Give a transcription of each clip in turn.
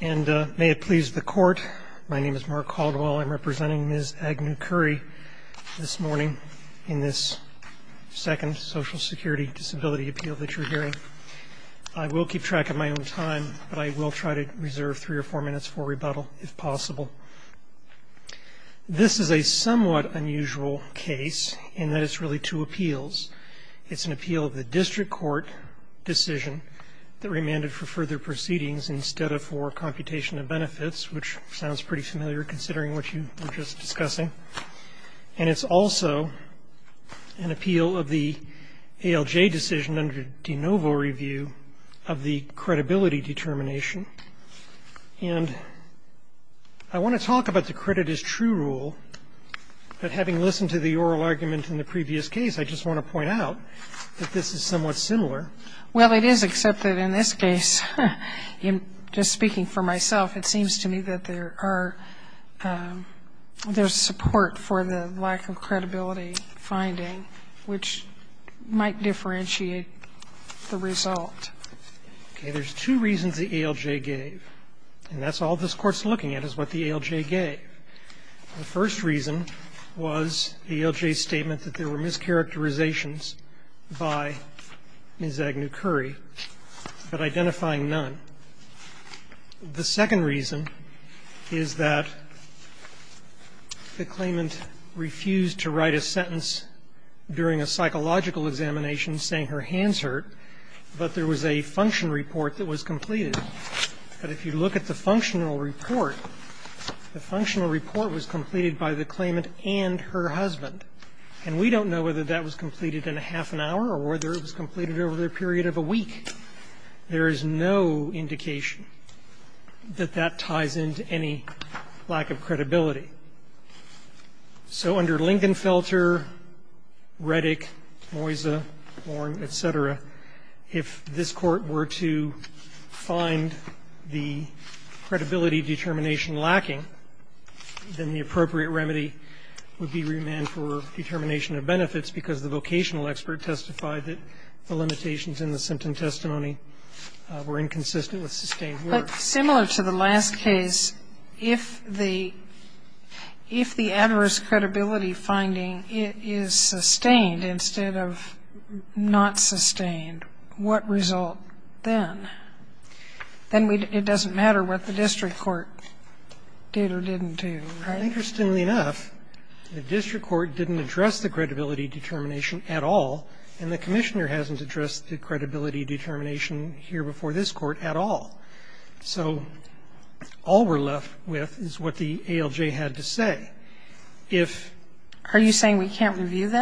And may it please the Court, my name is Mark Caldwell. I'm representing Ms. Agnew-Currie this morning in this second Social Security Disability Appeal that you're hearing. I will keep track of my own time, but I will try to reserve three or four minutes for rebuttal if possible. This is a somewhat unusual case in that it's really two appeals. It's an appeal of the district court decision that remanded for further proceedings instead of for computation of benefits, which sounds pretty familiar considering what you were just discussing. And it's also an appeal of the ALJ decision under de novo review of the credibility determination. And I want to talk about the credit as true rule, but having listened to the oral argument in the previous case, I just want to point out that this is somewhat similar. Well, it is, except that in this case, just speaking for myself, it seems to me that there are – there's support for the lack of credibility finding, which might differentiate the result. Okay. There's two reasons the ALJ gave, and that's all this Court's looking at is what the ALJ gave. The first reason was the ALJ's statement that there were mischaracterizations by Ms. Agnew-Curry, but identifying none. The second reason is that the claimant refused to write a sentence during a psychological examination saying her hands hurt, but there was a function report that was completed. But if you look at the functional report, the functional report was completed by the claimant and her husband. And we don't know whether that was completed in a half an hour or whether it was completed over the period of a week. There is no indication that that ties into any lack of credibility. So under Lingenfelter, Reddick, Moysa, Warren, et cetera, if this Court were to find the credibility determination lacking, then the appropriate remedy would be remand for determination of benefits because the vocational expert testified that the limitations in the sentence testimony were inconsistent with sustained work. Sotomayor, similar to the last case, if the adverse credibility finding is sustained instead of not sustained, what result then? Then it doesn't matter what the district court did or didn't do, right? Interestingly enough, the district court didn't address the credibility determination at all, and the commissioner hasn't addressed the credibility determination here before this Court at all. So all we're left with is what the ALJ had to say. If we were to conclude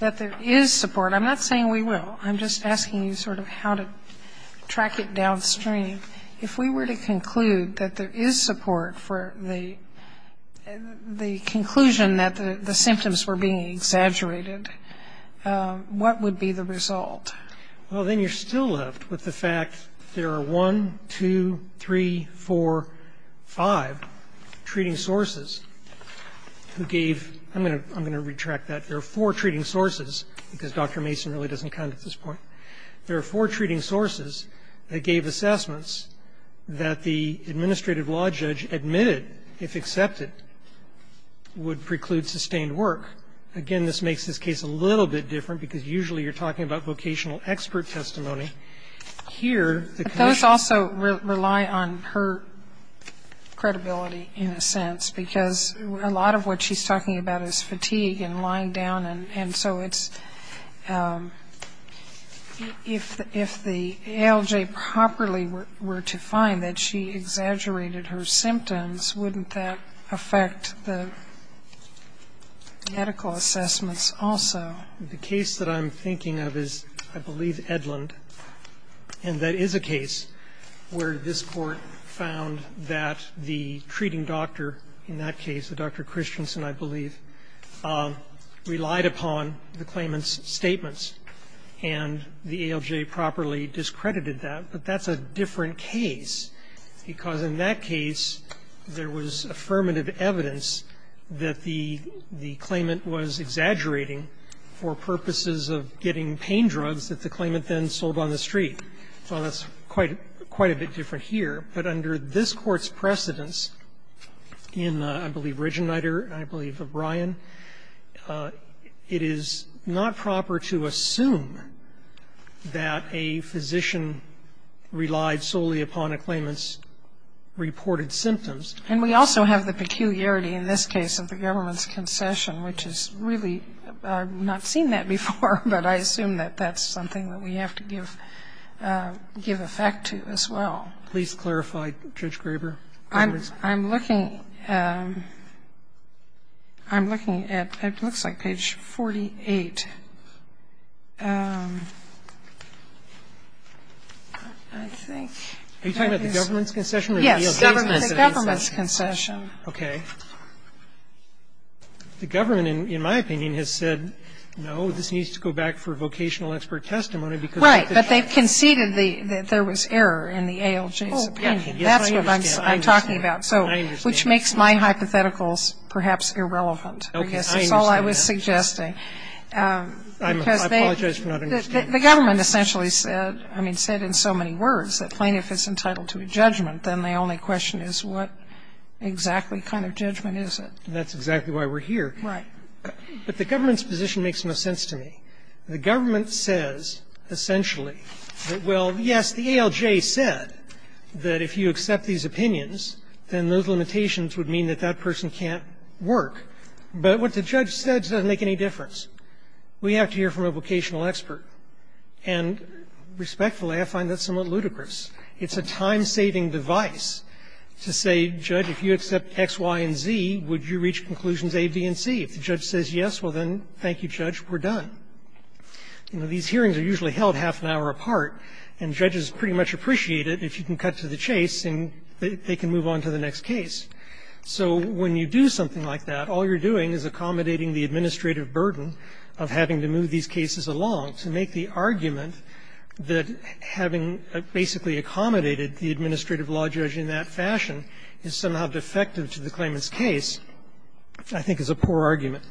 that there is support, I'm not saying we will. I'm just asking you sort of how to track it downstream. If we were to conclude that there is support for the conclusion that the symptoms were being exaggerated, what would be the result? Well, then you're still left with the fact there are one, two, three, four, five treating sources who gave ‑‑ I'm going to retract that. There are four treating sources, because Dr. Mason really doesn't count at this point. There are four treating sources that gave assessments that the administrative law judge admitted, if accepted, would preclude sustained work. Again, this makes this case a little bit different, because usually you're talking about vocational expert testimony. Here the ‑‑ But those also rely on her credibility in a sense, because a lot of what she's talking about is fatigue and lying down, and so it's ‑‑ if the ALJ properly were to find that she exaggerated her symptoms, wouldn't that affect the medical assessments also? The case that I'm thinking of is, I believe, Edlund, and that is a case where this treating doctor, in that case a Dr. Christensen, I believe, relied upon the claimant's statements, and the ALJ properly discredited that. But that's a different case, because in that case there was affirmative evidence that the claimant was exaggerating for purposes of getting pain drugs that the claimant then sold on the street. So that's quite a bit different here. But under this Court's precedence in, I believe, Regenreiter, and I believe O'Brien, it is not proper to assume that a physician relied solely upon a claimant's reported symptoms. And we also have the peculiarity in this case of the government's concession, which is really ‑‑ I've not seen that before, but I assume that that's something that we have to give effect to as well. Please clarify, Judge Graber. I'm looking at ‑‑ it looks like page 48. I think ‑‑ Are you talking about the government's concession or the ALJ's concession? Yes, the government's concession. Okay. The government, in my opinion, has said, no, this needs to go back for vocational expert testimony because ‑‑ Right. But they've conceded that there was error in the ALJ's opinion. Oh, yeah. Yes, I understand. That's what I'm talking about. I understand. Which makes my hypotheticals perhaps irrelevant. Okay. I understand that. That's all I was suggesting. I apologize for not understanding. The government essentially said, I mean, said in so many words that plaintiff is entitled to a judgment, then the only question is what exactly kind of judgment is it? That's exactly why we're here. Right. But the government's position makes no sense to me. The government says essentially that, well, yes, the ALJ said that if you accept these opinions, then those limitations would mean that that person can't work. But what the judge says doesn't make any difference. We have to hear from a vocational expert. And respectfully, I find that somewhat ludicrous. It's a time-saving device to say, Judge, if you accept X, Y, and Z, would you reach conclusions A, B, and C? If the judge says yes, well, then, thank you, Judge, we're done. You know, these hearings are usually held half an hour apart, and judges pretty much appreciate it if you can cut to the chase and they can move on to the next case. So when you do something like that, all you're doing is accommodating the administrative burden of having to move these cases along to make the argument that having basically accommodated the administrative law judge in that fashion is somehow defective to the claimant's case, I think is a poor argument.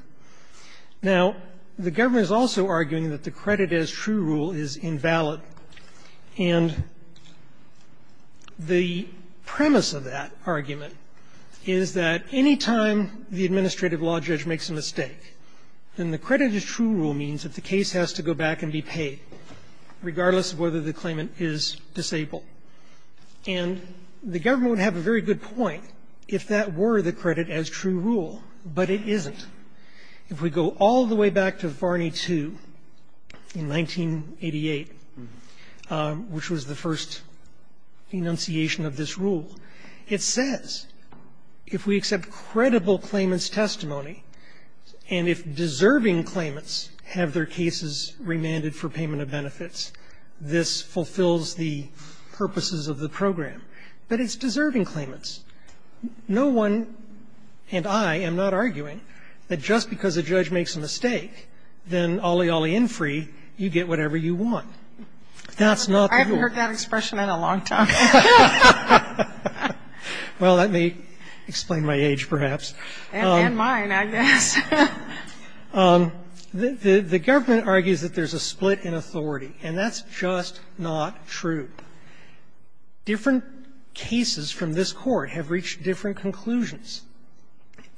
Now, the government is also arguing that the credit-as-true rule is invalid. And the premise of that argument is that any time the administrative law judge makes a mistake, then the credit-as-true rule means that the case has to go back and be paid. Regardless of whether the claimant is disabled. And the government would have a very good point if that were the credit-as-true rule, but it isn't. If we go all the way back to Varney II in 1988, which was the first enunciation of this rule, it says, if we accept credible claimant's testimony and if deserving claimants have their cases remanded for payment of benefits, this fulfills the purposes of the program. But it's deserving claimants. No one and I am not arguing that just because a judge makes a mistake, then ollie ollie in free, you get whatever you want. That's not the rule. I haven't heard that expression in a long time. Well, that may explain my age, perhaps. And mine, I guess. The government argues that there's a split in authority, and that's just not true. Different cases from this Court have reached different conclusions.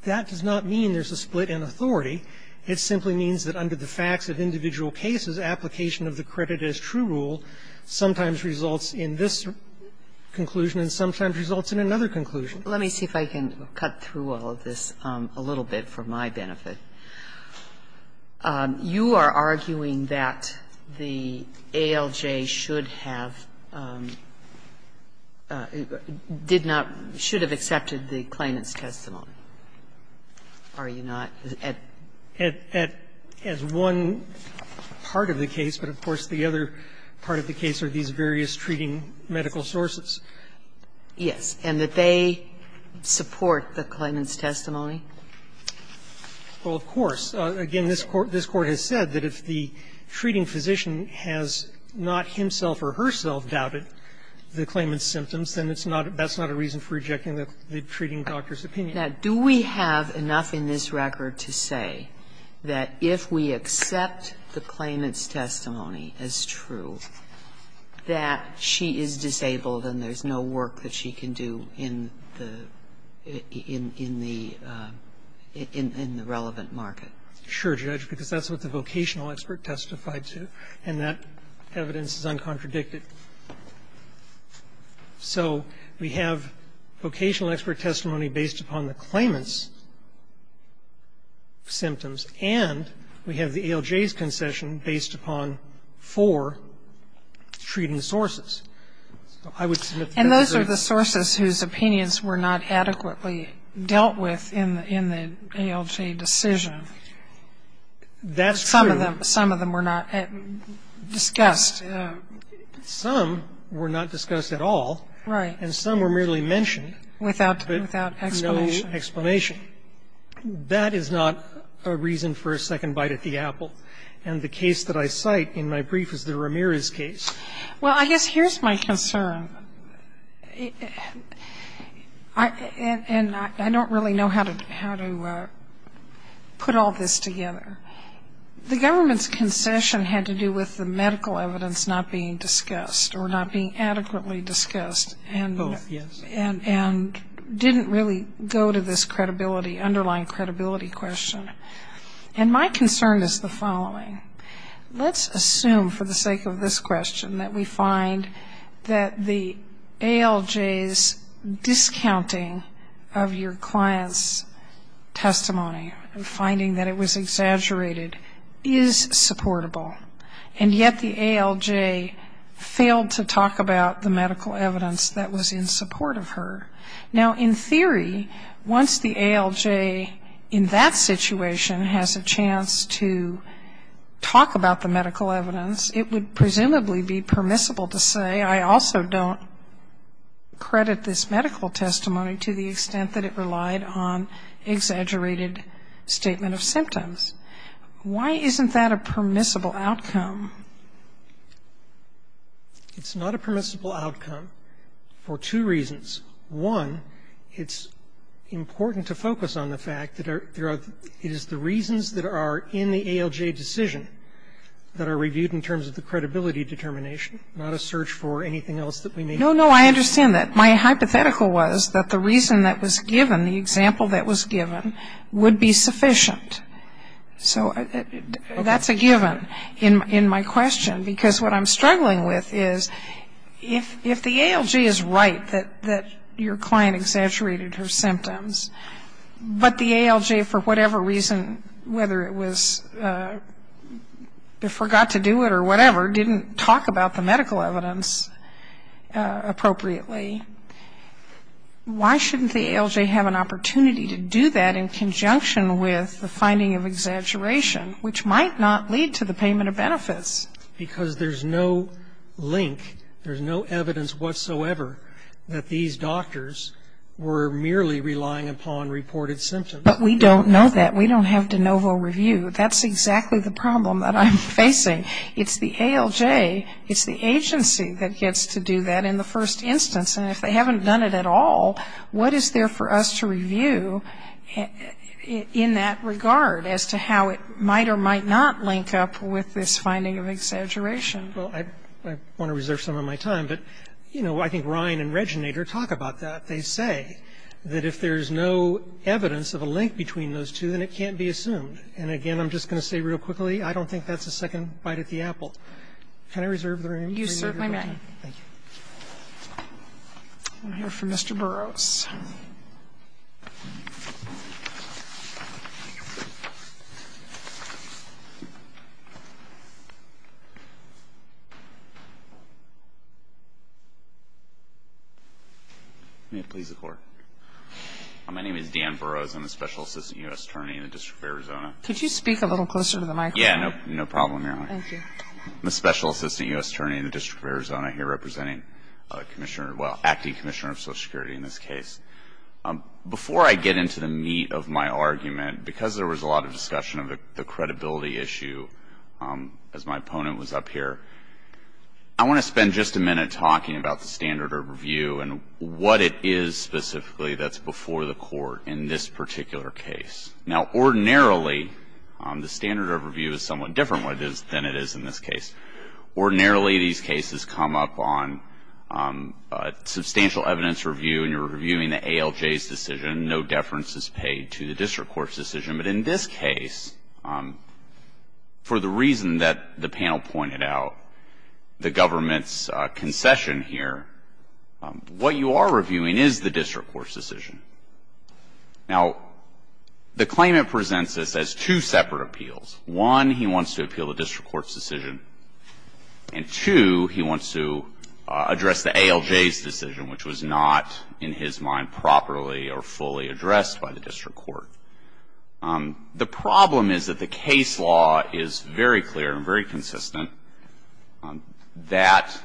That does not mean there's a split in authority. It simply means that under the facts of individual cases, application of the credit-as-true rule sometimes results in this conclusion and sometimes results in another conclusion. Sotomayor, let me see if I can cut through all of this a little bit for my benefit. You are arguing that the ALJ should have did not – should have accepted the claimant's testimony, are you not? As one part of the case, but of course the other part of the case are these various treating medical sources. Yes. And that they support the claimant's testimony? Well, of course. Again, this Court has said that if the treating physician has not himself or herself doubted the claimant's symptoms, then it's not – that's not a reason for rejecting the treating doctor's opinion. Now, do we have enough in this record to say that if we accept the claimant's and there's no work that she can do in the – in the relevant market? Sure, Judge, because that's what the vocational expert testified to, and that evidence is uncontradicted. So we have vocational expert testimony based upon the claimant's symptoms and we have the ALJ's concession based upon four treating sources. I would submit that there's a – And those are the sources whose opinions were not adequately dealt with in the ALJ decision. That's true. Some of them were not discussed. Some were not discussed at all. Right. And some were merely mentioned. Without explanation. No explanation. That is not a reason for a second bite at the apple. And the case that I cite in my brief is the Ramirez case. Well, I guess here's my concern. And I don't really know how to put all this together. The government's concession had to do with the medical evidence not being discussed or not being adequately discussed and didn't really go to this credibility – underlying And my concern is the following. Let's assume for the sake of this question that we find that the ALJ's discounting of your client's testimony and finding that it was exaggerated is supportable. And yet the ALJ failed to talk about the medical evidence that was in support of her. Now, in theory, once the ALJ in that situation has a chance to talk about the medical evidence, it would presumably be permissible to say, I also don't credit this medical testimony to the extent that it relied on exaggerated statement of symptoms. Why isn't that a permissible outcome? It's not a permissible outcome for two reasons. One, it's important to focus on the fact that it is the reasons that are in the ALJ decision that are reviewed in terms of the credibility determination, not a search for anything else that we may need. No, no, I understand that. My hypothetical was that the reason that was given, the example that was given, would be sufficient. So that's a given in my question, because what I'm struggling with is if the ALJ is right that your client exaggerated her symptoms, but the ALJ, for whatever reason, whether it was forgot to do it or whatever, didn't talk about the medical evidence appropriately, why shouldn't the ALJ have an opportunity to do that in conjunction with the finding of exaggeration, which might not lead to the payment of benefits? Because there's no link, there's no evidence whatsoever that these doctors were merely relying upon reported symptoms. But we don't know that. We don't have de novo review. That's exactly the problem that I'm facing. It's the ALJ, it's the agency that gets to do that in the first instance. And if they haven't done it at all, what is there for us to review in that regard as to how it might or might not link up with this finding of exaggeration? Well, I want to reserve some of my time, but, you know, I think Ryan and Reginator talk about that. They say that if there's no evidence of a link between those two, then it can't be assumed. And again, I'm just going to say real quickly, I don't think that's a second bite at the apple. Can I reserve the room? You certainly may. I'm here for Mr. Burroughs. May it please the Court. My name is Dan Burroughs. I'm a Special Assistant U.S. Attorney in the District of Arizona. Could you speak a little closer to the microphone? Yeah, no problem, Your Honor. Thank you. I'm a Special Assistant U.S. Attorney in the District of Arizona here representing Commissioner, well, Acting Commissioner of Social Security in this case. Before I get into the meat of my argument, because there was a lot of discussion of the credibility issue as my opponent was up here, I want to spend just a minute talking about the standard of review and what it is specifically that's before the Court in this particular case. Now, ordinarily, the standard of review is somewhat different than it is in this case. Ordinarily, these cases come up on substantial evidence review and you're reviewing the ALJ's decision, no deference is paid to the district court's decision. But in this case, for the reason that the panel pointed out, the government's concession here, what you are reviewing is the district court's decision. Now, the claimant presents this as two separate appeals. One, he wants to appeal the district court's decision. And two, he wants to address the ALJ's decision, which was not, in his mind, properly or fully addressed by the district court. The problem is that the case law is very clear and very consistent that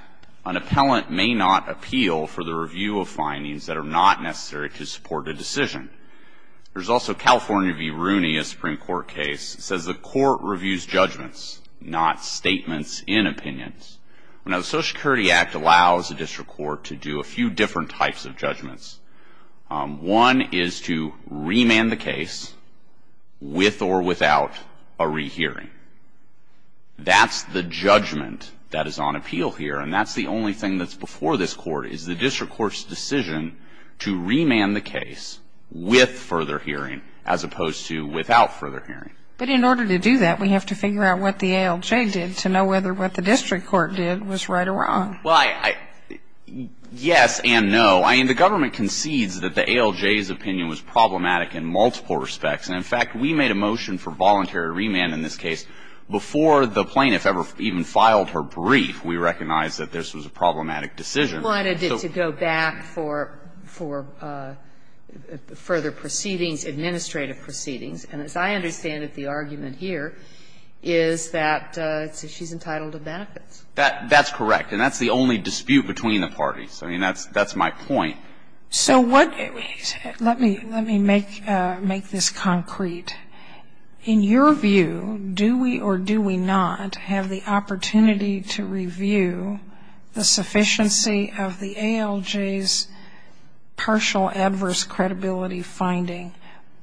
an appellant may not appeal for the review of findings that are not necessary to support a decision. There's also California v. Rooney, a Supreme Court case, says the court reviews judgments, not statements in opinions. Now, the Social Security Act allows a district court to do a few different types of judgments. One is to remand the case with or without a rehearing. That's the judgment that is on appeal here. And that's the only thing that's before this court, is the district court's decision to remand the case with further hearing, as opposed to without further hearing. But in order to do that, we have to figure out what the ALJ did to know whether what the district court did was right or wrong. Well, yes and no. I mean, the government concedes that the ALJ's opinion was problematic in multiple respects. And in fact, we made a motion for voluntary remand in this case before the plaintiff ever even filed her brief. We recognized that this was a problematic decision. And we wanted it to go back for further proceedings, administrative proceedings. And as I understand it, the argument here is that she's entitled to benefits. That's correct. And that's the only dispute between the parties. I mean, that's my point. So what we said, let me make this concrete. In your view, do we or do we not have the opportunity to review the sufficiency of the ALJ's partial adverse credibility finding?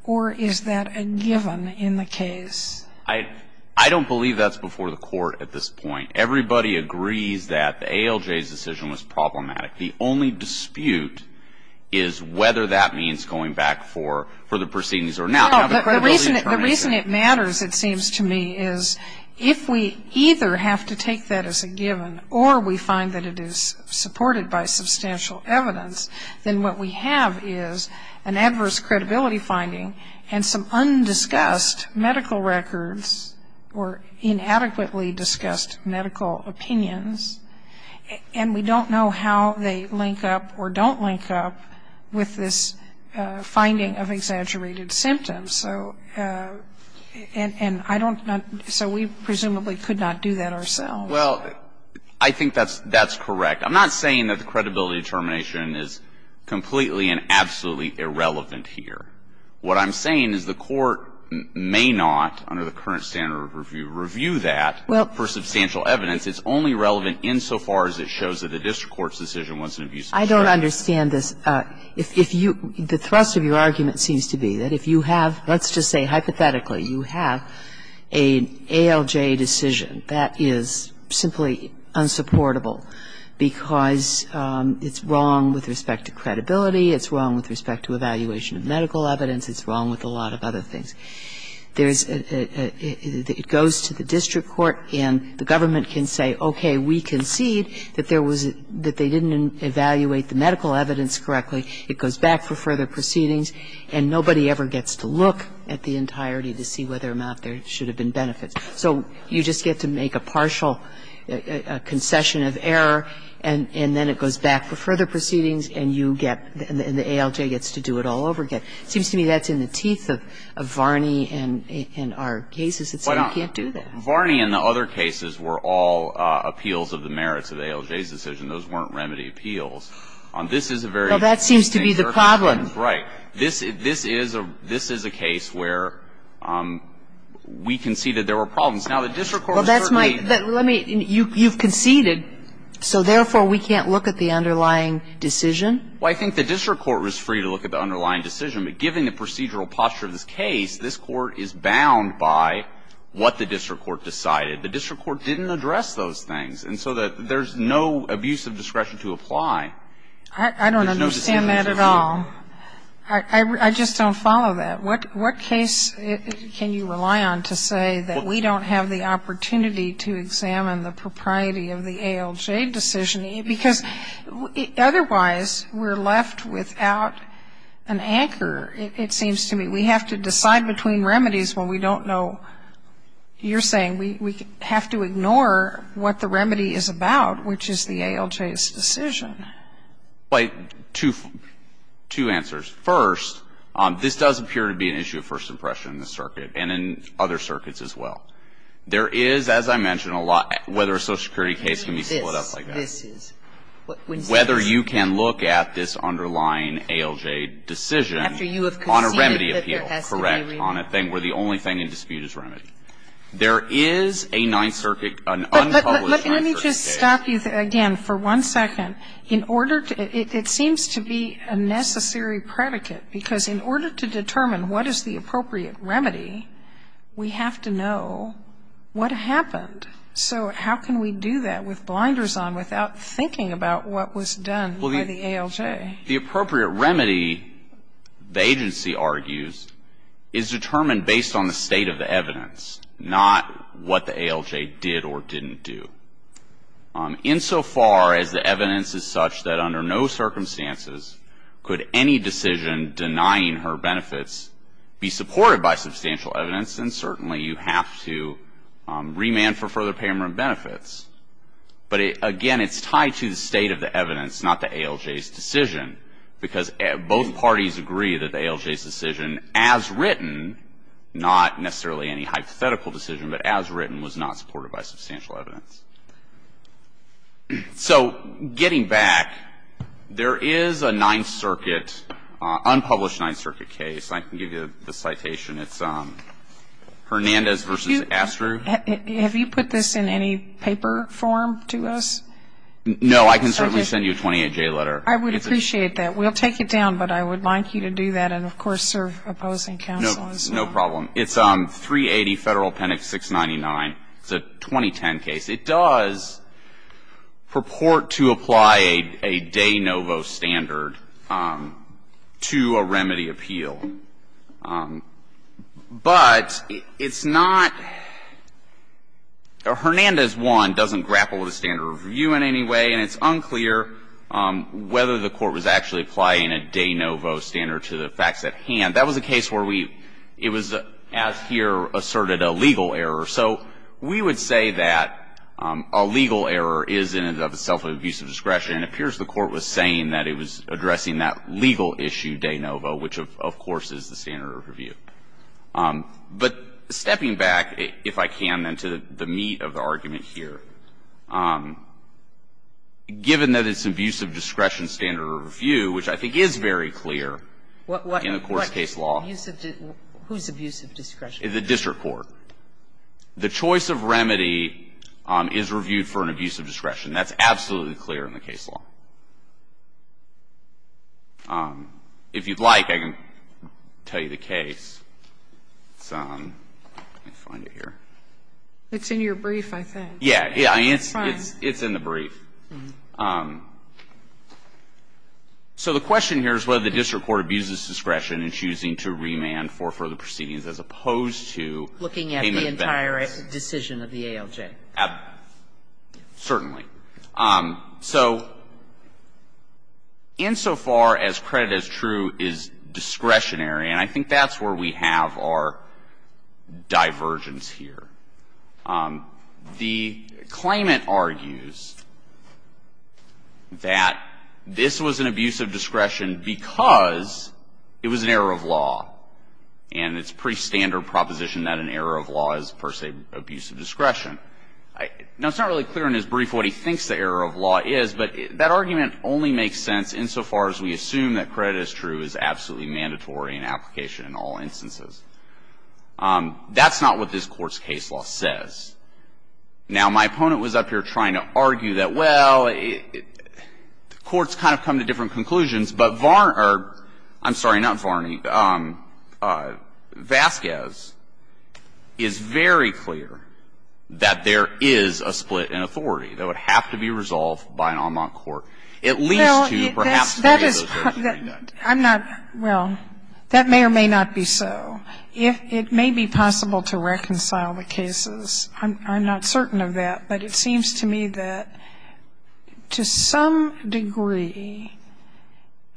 Or is that a given in the case? I don't believe that's before the court at this point. Everybody agrees that the ALJ's decision was problematic. The only dispute is whether that means going back for further proceedings or not. No, the reason it matters, it seems to me, is if we either have to take that as a substantial evidence, then what we have is an adverse credibility finding and some undiscussed medical records or inadequately discussed medical opinions, and we don't know how they link up or don't link up with this finding of exaggerated symptoms. So and I don't know so we presumably could not do that ourselves. Well, I think that's correct. I'm not saying that the credibility determination is completely and absolutely irrelevant here. What I'm saying is the court may not, under the current standard of review, review that for substantial evidence. It's only relevant insofar as it shows that the district court's decision was an abuse of power. I don't understand this. If you the thrust of your argument seems to be that if you have, let's just say hypothetically, you have an ALJ decision that is simply unsupportable because it's wrong with respect to credibility, it's wrong with respect to evaluation of medical evidence, it's wrong with a lot of other things. There's a, it goes to the district court and the government can say, okay, we concede that there was, that they didn't evaluate the medical evidence correctly, it goes back for further proceedings, and nobody ever gets to look at the entirety of the case to see whether or not there should have been benefits. So you just get to make a partial concession of error, and then it goes back for further proceedings, and you get, and the ALJ gets to do it all over again. It seems to me that's in the teeth of Varney and our cases. It's that you can't do that. Well, Varney and the other cases were all appeals of the merits of the ALJ's decision. Those weren't remedy appeals. This is a very interesting jurisdiction. Well, that seems to be the problem. Right. This is, this is a, this is a case where we conceded there were problems. Now, the district court is certainly. Well, that's my, let me, you've conceded, so therefore, we can't look at the underlying decision? Well, I think the district court was free to look at the underlying decision. But given the procedural posture of this case, this Court is bound by what the district court decided. The district court didn't address those things. And so there's no abuse of discretion to apply. I don't understand that at all. I just don't follow that. What case can you rely on to say that we don't have the opportunity to examine the propriety of the ALJ decision? Because otherwise, we're left without an anchor, it seems to me. We have to decide between remedies when we don't know. You're saying we have to ignore what the remedy is about, which is the ALJ's decision. Two answers. First, this does appear to be an issue of first impression in the circuit and in other circuits as well. There is, as I mentioned, a lot, whether a Social Security case can be split up like that. This is. Whether you can look at this underlying ALJ decision on a remedy appeal. After you have conceded that there has to be a remedy. Correct, on a thing where the only thing in dispute is remedy. There is a Ninth Circuit, an unpublished Ninth Circuit case. Let me just stop you again for one second. In order to, it seems to be a necessary predicate, because in order to determine what is the appropriate remedy, we have to know what happened. So how can we do that with blinders on without thinking about what was done by the ALJ? The appropriate remedy, the agency argues, is determined based on the state of the evidence. Not what the ALJ did or didn't do. Insofar as the evidence is such that under no circumstances could any decision denying her benefits be supported by substantial evidence, then certainly you have to remand for further payment of benefits. But again, it's tied to the state of the evidence, not the ALJ's decision. Because both parties agree that the ALJ's decision, as written, not necessarily any hypothetical decision, but as written, was not supported by substantial evidence. So getting back, there is a Ninth Circuit, unpublished Ninth Circuit case. I can give you the citation. It's Hernandez v. Astruz. Have you put this in any paper form to us? No. I can certainly send you a 28J letter. I would appreciate that. We'll take it down, but I would like you to do that and, of course, serve opposing counsel as well. No problem. It's 380 Federal Appendix 699. It's a 2010 case. It does purport to apply a de novo standard to a remedy appeal. But it's not or Hernandez, one, doesn't grapple with the standard of review in any way, and it's unclear whether the court was actually applying a de novo standard to the facts at hand. That was a case where we as here asserted a legal error. So we would say that a legal error is in and of itself an abuse of discretion. It appears the Court was saying that it was addressing that legal issue de novo, which, of course, is the standard of review. But stepping back, if I can, then, to the meat of the argument here, given that it's abuse of discretion standard of review, which I think is very clear in the Court's case law. What abuse of discretion? Whose abuse of discretion? The district court. The choice of remedy is reviewed for an abuse of discretion. That's absolutely clear in the case law. If you'd like, I can tell you the case. Let me find it here. It's in your brief, I think. Yeah. It's in the brief. So the question here is whether the district court abuses discretion in choosing to remand for further proceedings as opposed to payment in advance. Looking at the entire decision of the ALJ. Certainly. So insofar as credit as true is discretionary, and I think that's where we have our divergence here, the claimant argues that this was an abuse of discretion because it was an error of law. And it's pretty standard proposition that an error of law is, per se, abuse of discretion. Now, it's not really clear in his brief what he thinks the error of law is, but that argument only makes sense insofar as we assume that credit as true is absolutely mandatory in application in all instances. That's not what this Court's case law says. Now, my opponent was up here trying to argue that, well, the courts kind of come to different conclusions, but Varn or, I'm sorry, not Varni, Vasquez is very clear that there is a split in authority that would have to be resolved by an en banc court, at least to perhaps to get those versions redone. I'm not, well, that may or may not be so. It may be possible to reconcile the cases. I'm not certain of that, but it seems to me that to some degree,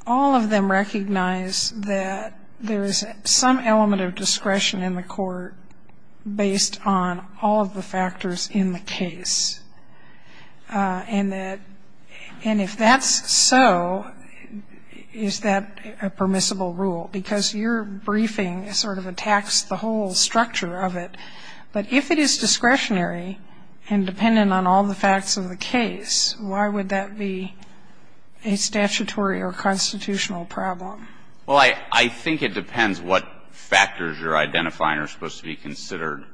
all of them recognize that there is some element of discretion in the court based on all of the factors in the case. And that, and if that's so, is that a permissible rule? Because your briefing sort of attacks the whole structure of it. But if it is discretionary and dependent on all the facts of the case, why would that be a statutory or constitutional problem? Well, I think it depends what factors you're identifying are supposed to be considered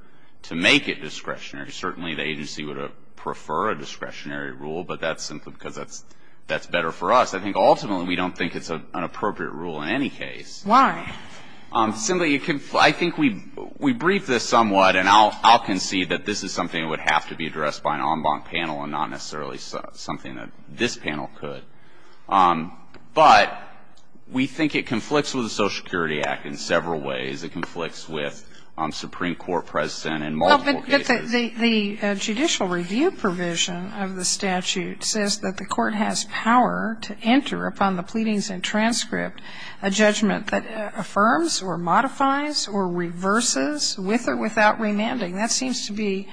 to make it discretionary. Certainly, the agency would prefer a discretionary rule, but that's simply because that's better for us. I think ultimately we don't think it's an appropriate rule in any case. Why? Simply, I think we briefed this somewhat, and I'll concede that this is something that would have to be addressed by an en banc panel and not necessarily something that this panel could. But we think it conflicts with the Social Security Act in several ways. It conflicts with Supreme Court precedent in multiple cases. The judicial review provision of the statute says that the court has power to enter upon the pleadings and transcript a judgment that affirms or modifies or reverses with or without remanding. That seems to be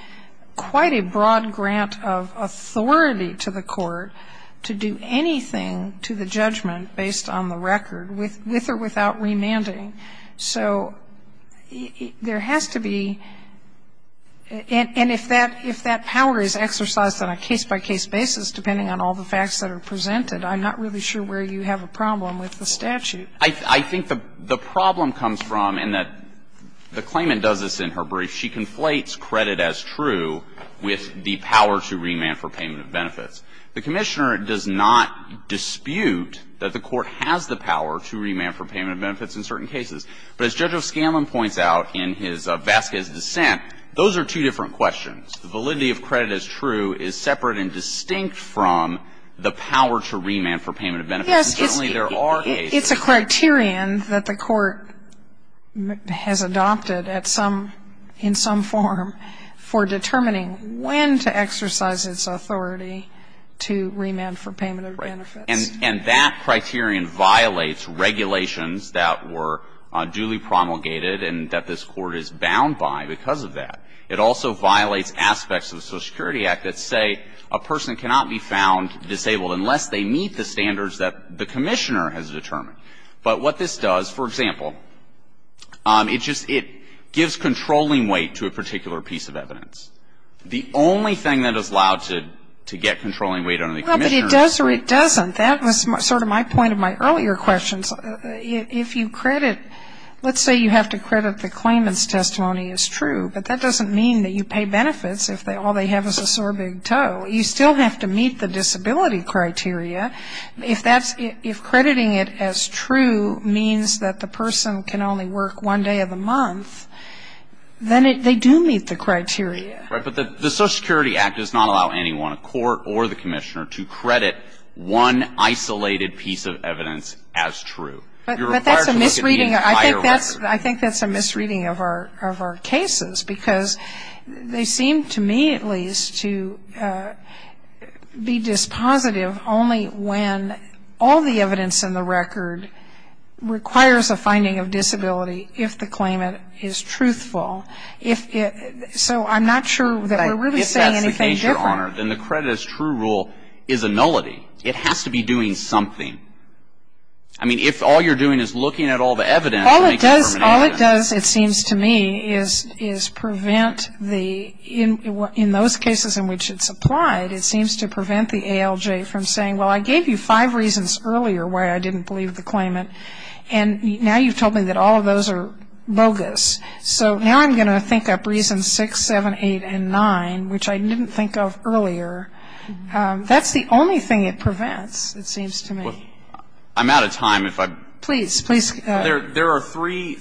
quite a broad grant of authority to the court to do anything to the judgment based on the record with or without remanding. So there has to be and if that power is exercised on a case-by-case basis, depending on all the facts that are presented, I'm not really sure where you have a problem with the statute. I think the problem comes from, and the claimant does this in her brief, she conflates credit as true with the power to remand for payment of benefits. The Commissioner does not dispute that the court has the power to remand for payment of benefits in certain cases. But as Judge O'Scanlan points out in his Vasquez dissent, those are two different questions. The validity of credit as true is separate and distinct from the power to remand for payment of benefits. And certainly there are cases. It's a criterion that the court has adopted at some – in some form for determining when to exercise its authority to remand for payment of benefits. Right. And that criterion violates regulations that were duly promulgated and that this court is bound by because of that. It also violates aspects of the Social Security Act that say a person cannot be found disabled unless they meet the standards that the Commissioner has determined. But what this does, for example, it just – it gives controlling weight to a particular piece of evidence. The only thing that is allowed to get controlling weight under the Commissioner is credit. Well, but it does or it doesn't. That was sort of my point in my earlier questions. If you credit – let's say you have to credit the claimant's testimony as true, but that doesn't mean that you pay benefits if all they have is a sore big toe. You still have to meet the disability criteria. If that's – if crediting it as true means that the person can only work one day of the month, then they do meet the criteria. Right. But the Social Security Act does not allow anyone, a court or the Commissioner, to credit one isolated piece of evidence as true. You're required to look at the entire record. I think that's a misreading of our cases because they seem, to me at least, to be dispositive only when all the evidence in the record requires a finding of disability if the claimant is truthful. If – so I'm not sure that we're really saying anything different. If that's the case, Your Honor, then the credit as true rule is a nullity. It has to be doing something. I mean, if all you're doing is looking at all the evidence – All it does, it seems to me, is prevent the – in those cases in which it's applied, it seems to prevent the ALJ from saying, well, I gave you five reasons earlier why I didn't believe the claimant, and now you've told me that all of those are bogus. So now I'm going to think up reasons six, seven, eight, and nine, which I didn't think of earlier. That's the only thing it prevents, it seems to me. I'm out of time if I – Please, please. There are three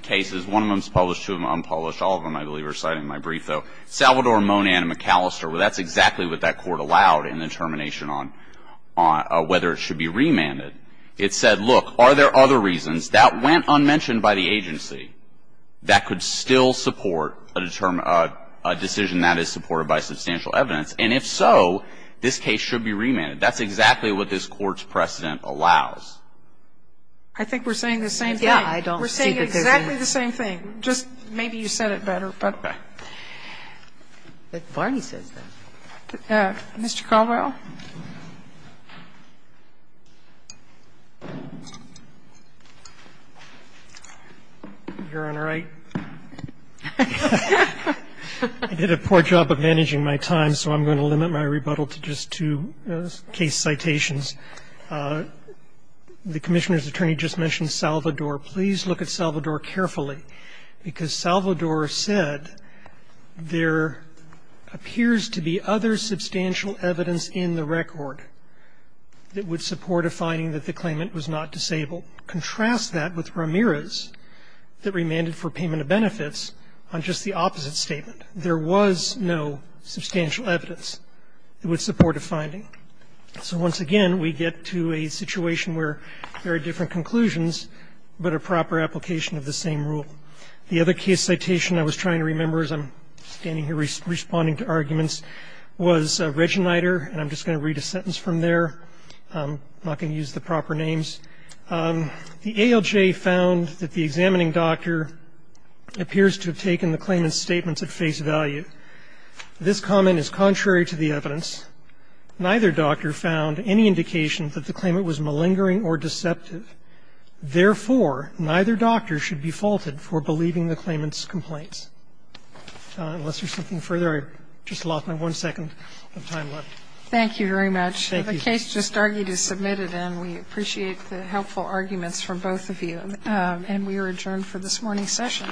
cases. One of them is published, two of them unpublished. All of them, I believe, are cited in my brief, though. Salvador, Monan, and McAllister, that's exactly what that Court allowed in the determination on whether it should be remanded. It said, look, are there other reasons that went unmentioned by the agency that could still support a decision that is supported by substantial evidence? And if so, this case should be remanded. That's exactly what this Court's precedent allows. I think we're saying the same thing. Yeah, I don't think that there's any. We're saying exactly the same thing. Just maybe you said it better, but. But Barney says that. Mr. Caldwell. Your Honor, I did a poor job of managing my time, so I'm going to limit my rebuttal to just two case citations. The Commissioner's attorney just mentioned Salvador. Please look at Salvador carefully, because Salvador said there appears to be other substantial evidence in the record that would support a finding that the claimant was not disabled. Contrast that with Ramirez that remanded for payment of benefits on just the opposite statement. There was no substantial evidence that would support a finding. So once again, we get to a situation where there are different conclusions, but a proper application of the same rule. The other case citation I was trying to remember as I'm standing here responding to arguments was Reginider, and I'm just going to read a sentence from there. I'm not going to use the proper names. The ALJ found that the examining doctor appears to have taken the claimant's statements at face value. This comment is contrary to the evidence. Neither doctor found any indication that the claimant was malingering or deceptive. Therefore, neither doctor should be faulted for believing the claimant's complaints. Unless there's something further, I just lost my one second of time left. Thank you very much. Thank you. The case just argued is submitted, and we appreciate the helpful arguments from both of you. And we are adjourned for this morning's session.